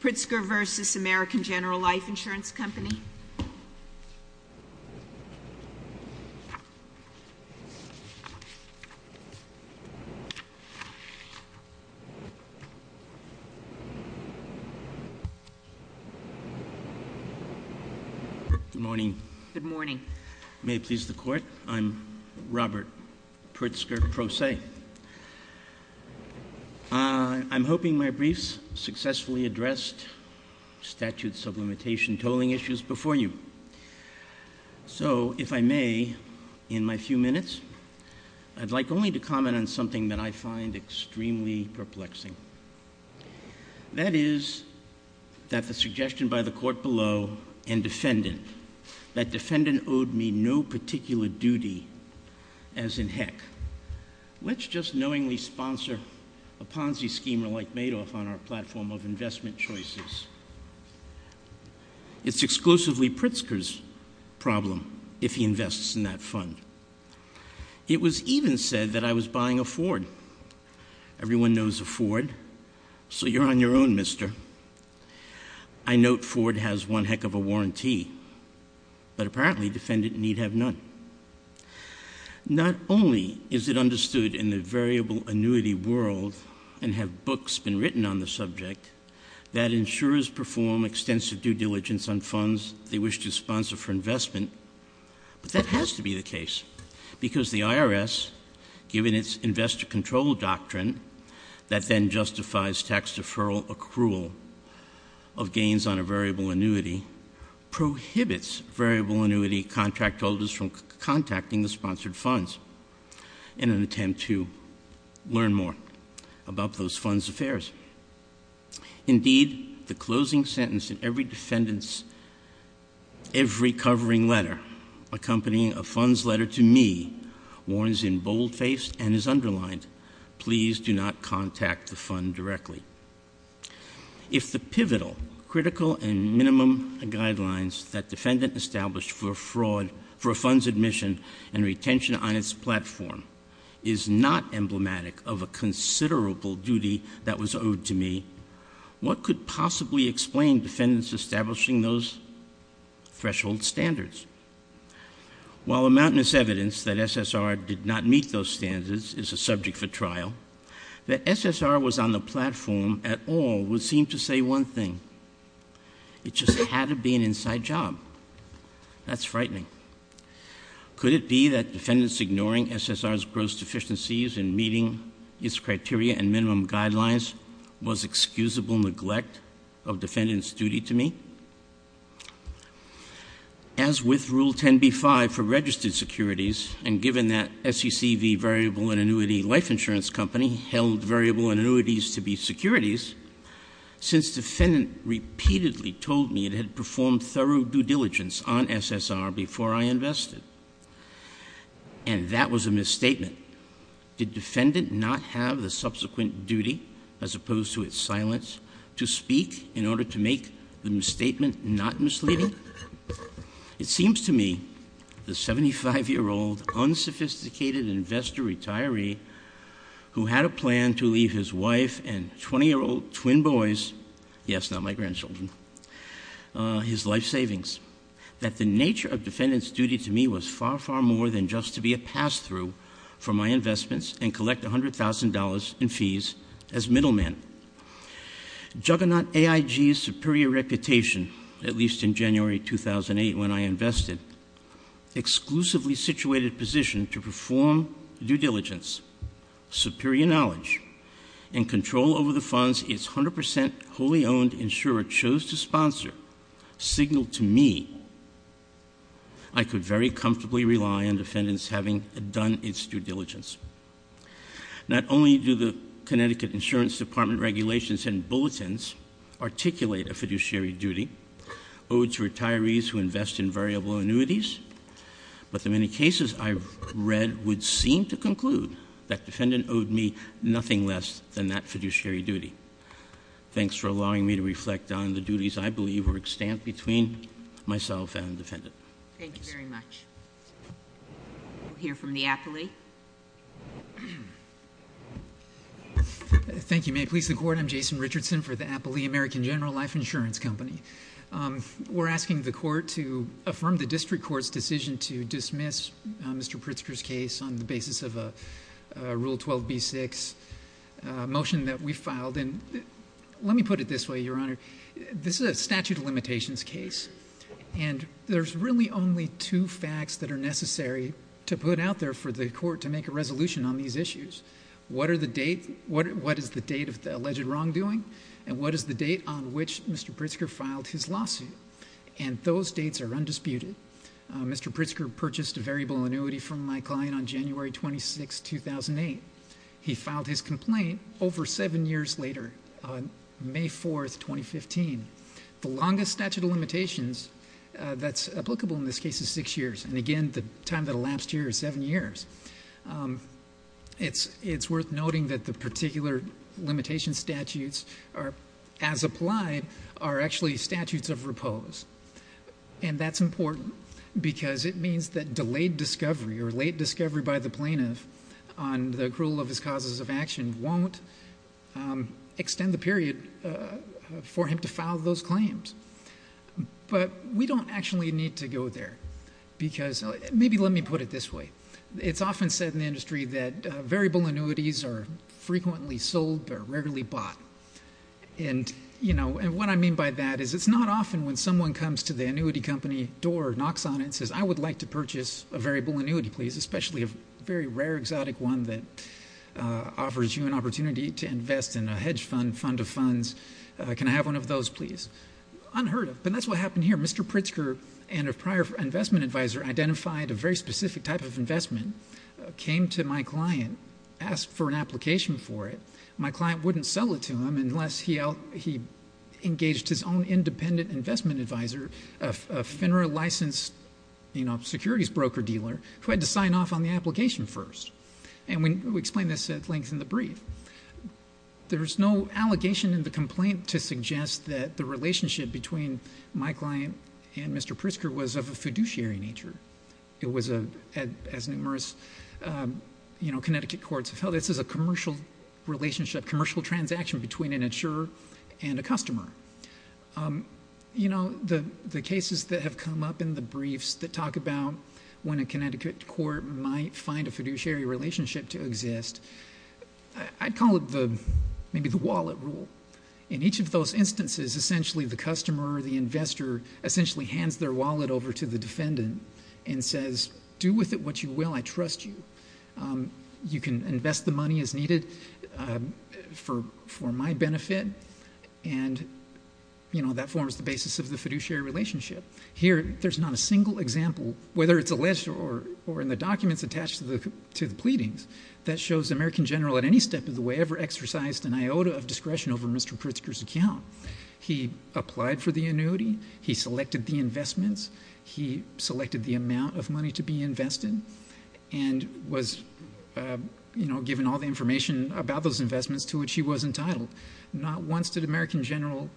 Pritsker v. American General Life Insurance Company. Good morning. Good morning. May it please the court, I'm Robert Pritsker-Proce. I'm hoping my briefs successfully addressed statute sublimation tolling issues before you. So, if I may, in my few minutes, I'd like only to comment on something that I find extremely perplexing. That is, that the suggestion by the court below and defendant, that defendant owed me no particular duty, as in heck, let's just knowingly sponsor a Ponzi schemer like Madoff on our platform of investment choices. It's exclusively Pritsker's problem if he invests in that fund. It was even said that I was buying a Ford. Everyone knows a Ford, so you're on your own, mister. I note Ford has one heck of a warranty, but apparently defendant need have none. Not only is it understood in the variable annuity world and have books been written on the subject that insurers perform extensive due diligence on funds they wish to sponsor for investment. But that has to be the case, because the IRS, given its investor control doctrine, that then justifies tax deferral accrual of gains on a variable annuity, prohibits variable annuity contract holders from contacting the sponsored funds. In an attempt to learn more about those funds affairs. Indeed, the closing sentence in every defendant's, every covering letter, accompanying a fund's letter to me, warns in bold face and is underlined, please do not contact the fund directly. If the pivotal, critical, and minimum guidelines that defendant established for fraud, for a fund's admission and retention on its platform is not emblematic of a considerable duty that was owed to me, what could possibly explain defendants establishing those threshold standards? While a mountainous evidence that SSR did not meet those standards is a subject for trial. That SSR was on the platform at all would seem to say one thing. It just had to be an inside job. That's frightening. Could it be that defendants ignoring SSR's gross deficiencies in meeting its criteria and minimum guidelines was excusable neglect of defendant's duty to me? As with rule 10b-5 for registered securities, and given that SECV variable and annuity life insurance company held variable and annuities to be securities. Since defendant repeatedly told me it had performed thorough due diligence on SSR before I invested. And that was a misstatement. Did defendant not have the subsequent duty, as opposed to its silence, to speak in order to make the misstatement not misleading? It seems to me the 75 year old unsophisticated investor retiree who had a plan to leave his wife and 20 year old twin boys, yes, not my grandchildren, his life savings, that the nature of defendant's duty to me was far, far more than just to be a pass through for my investments and collect $100,000 in fees as middle man. Juggernaut AIG's superior reputation, at least in January 2008 when I invested, exclusively situated position to perform due diligence, superior knowledge, and control over the funds its 100% wholly owned insurer chose to sponsor, signaled to me I could very comfortably rely on defendants having done its due diligence. Not only do the Connecticut Insurance Department regulations and bulletins articulate a fiduciary duty, owed to retirees who invest in variable annuities, but the many cases I've read would seem to conclude that defendant owed me nothing less than that fiduciary duty. Thanks for allowing me to reflect on the duties I believe were extant between myself and defendant. Thank you very much. We'll hear from the Appley. Thank you, may it please the court, I'm Jason Richardson for the Appley American General Life Insurance Company. We're asking the court to affirm the district court's decision to dismiss Mr. Pritzker's case on the basis of a Rule 12B6 motion that we filed. And let me put it this way, Your Honor. This is a statute of limitations case. And there's really only two facts that are necessary to put out there for the court to make a resolution on these issues. What is the date of the alleged wrongdoing? And what is the date on which Mr. Pritzker filed his lawsuit? And those dates are undisputed. Mr. Pritzker purchased a variable annuity from my client on January 26, 2008. He filed his complaint over seven years later, on May 4, 2015. The longest statute of limitations that's applicable in this case is six years. And again, the time that elapsed here is seven years. It's worth noting that the particular limitation statutes, as applied, are actually statutes of repose. And that's important, because it means that delayed discovery, or late discovery by the plaintiff on the accrual of his causes of action won't extend the period for him to file those claims. But we don't actually need to go there, because, maybe let me put it this way. It's often said in the industry that variable annuities are frequently sold, but are rarely bought. And what I mean by that is, it's not often when someone comes to the annuity company door, knocks on it, says, I would like to purchase a variable annuity, please, especially a very rare, exotic one that offers you an opportunity to invest in a hedge fund, fund of funds. Can I have one of those, please? Unheard of, but that's what happened here. Mr. Pritzker and a prior investment advisor identified a very specific type of investment, came to my client, asked for an application for it. My client wouldn't sell it to him unless he engaged his own independent investment advisor, a FINRA licensed securities broker dealer, who had to sign off on the application first. And we explain this at length in the brief. There's no allegation in the complaint to suggest that the relationship between my client and Mr. Pritzker was of a fiduciary nature. It was, as numerous Connecticut courts have held, this is a commercial relationship, commercial transaction between an insurer and a customer. You know, the cases that have come up in the briefs that talk about when a Connecticut court might find a fiduciary relationship to exist, I'd call it maybe the wallet rule. In each of those instances, essentially the customer or the investor essentially hands their wallet over to the defendant and says, do with it what you will, I trust you. You can invest the money as needed for my benefit, and that forms the basis of the fiduciary relationship. Here, there's not a single example, whether it's alleged or in the documents attached to the pleadings, that shows the American General at any step of the way ever exercised an iota of discretion over Mr. Pritzker's account. He applied for the annuity, he selected the investments, he selected the amount of money to be invested, and was given all the information about those investments to which he was entitled. Not once did the American General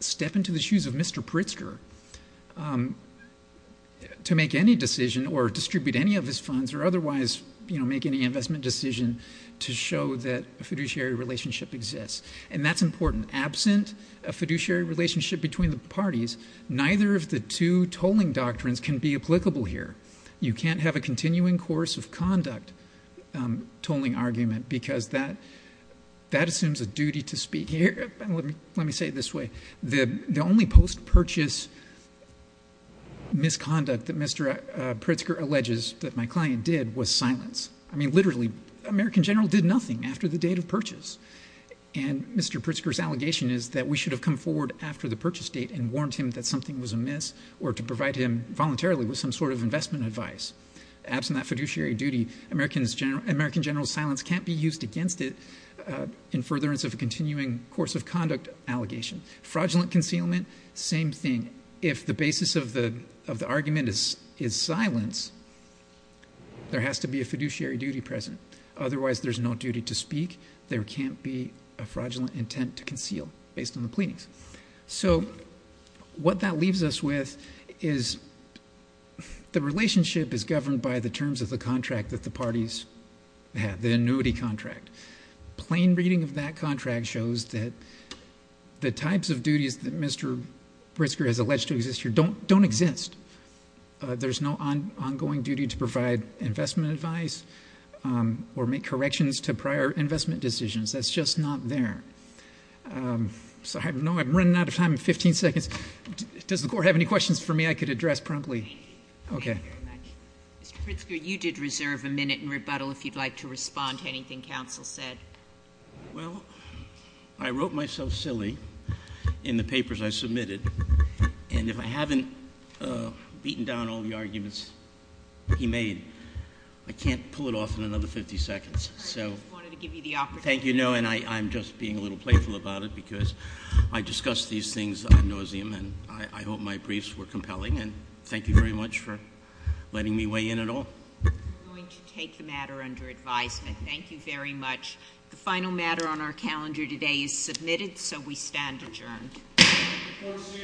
step into the shoes of Mr. Pritzker to make any decision or to make any investment decision to show that a fiduciary relationship exists. And that's important. Absent a fiduciary relationship between the parties, neither of the two tolling doctrines can be applicable here. You can't have a continuing course of conduct tolling argument because that assumes a duty to speak here. Let me say it this way, the only post-purchase misconduct that Mr. Pritzker alleges that my client did was silence. I mean, literally, American General did nothing after the date of purchase. And Mr. Pritzker's allegation is that we should have come forward after the purchase date and warned him that something was amiss or to provide him voluntarily with some sort of investment advice. Absent that fiduciary duty, American General's silence can't be used against it in furtherance of a continuing course of conduct allegation. Fraudulent concealment, same thing. If the basis of the argument is silence, there has to be a fiduciary duty present. Otherwise, there's no duty to speak. There can't be a fraudulent intent to conceal based on the pleadings. So, what that leaves us with is the relationship is governed by the terms of the contract that the parties have, the annuity contract. Plain reading of that contract shows that the types of duties that Mr. Pritzker has alleged to exist here don't exist. There's no ongoing duty to provide investment advice or make corrections to prior investment decisions. That's just not there. So I'm running out of time, 15 seconds. Does the court have any questions for me I could address promptly? Okay. Thank you very much. Mr. Pritzker, you did reserve a minute in rebuttal if you'd like to respond to anything counsel said. Well, I wrote myself silly in the papers I submitted. And if I haven't beaten down all the arguments he made, I can't pull it off in another 50 seconds. So- I just wanted to give you the opportunity. Thank you, no, and I'm just being a little playful about it because I discuss these things ad nauseum and I hope my briefs were compelling and thank you very much for letting me weigh in at all. I'm going to take the matter under advisement. Thank you very much. The final matter on our calendar today is submitted, so we stand adjourned. Court is adjourned.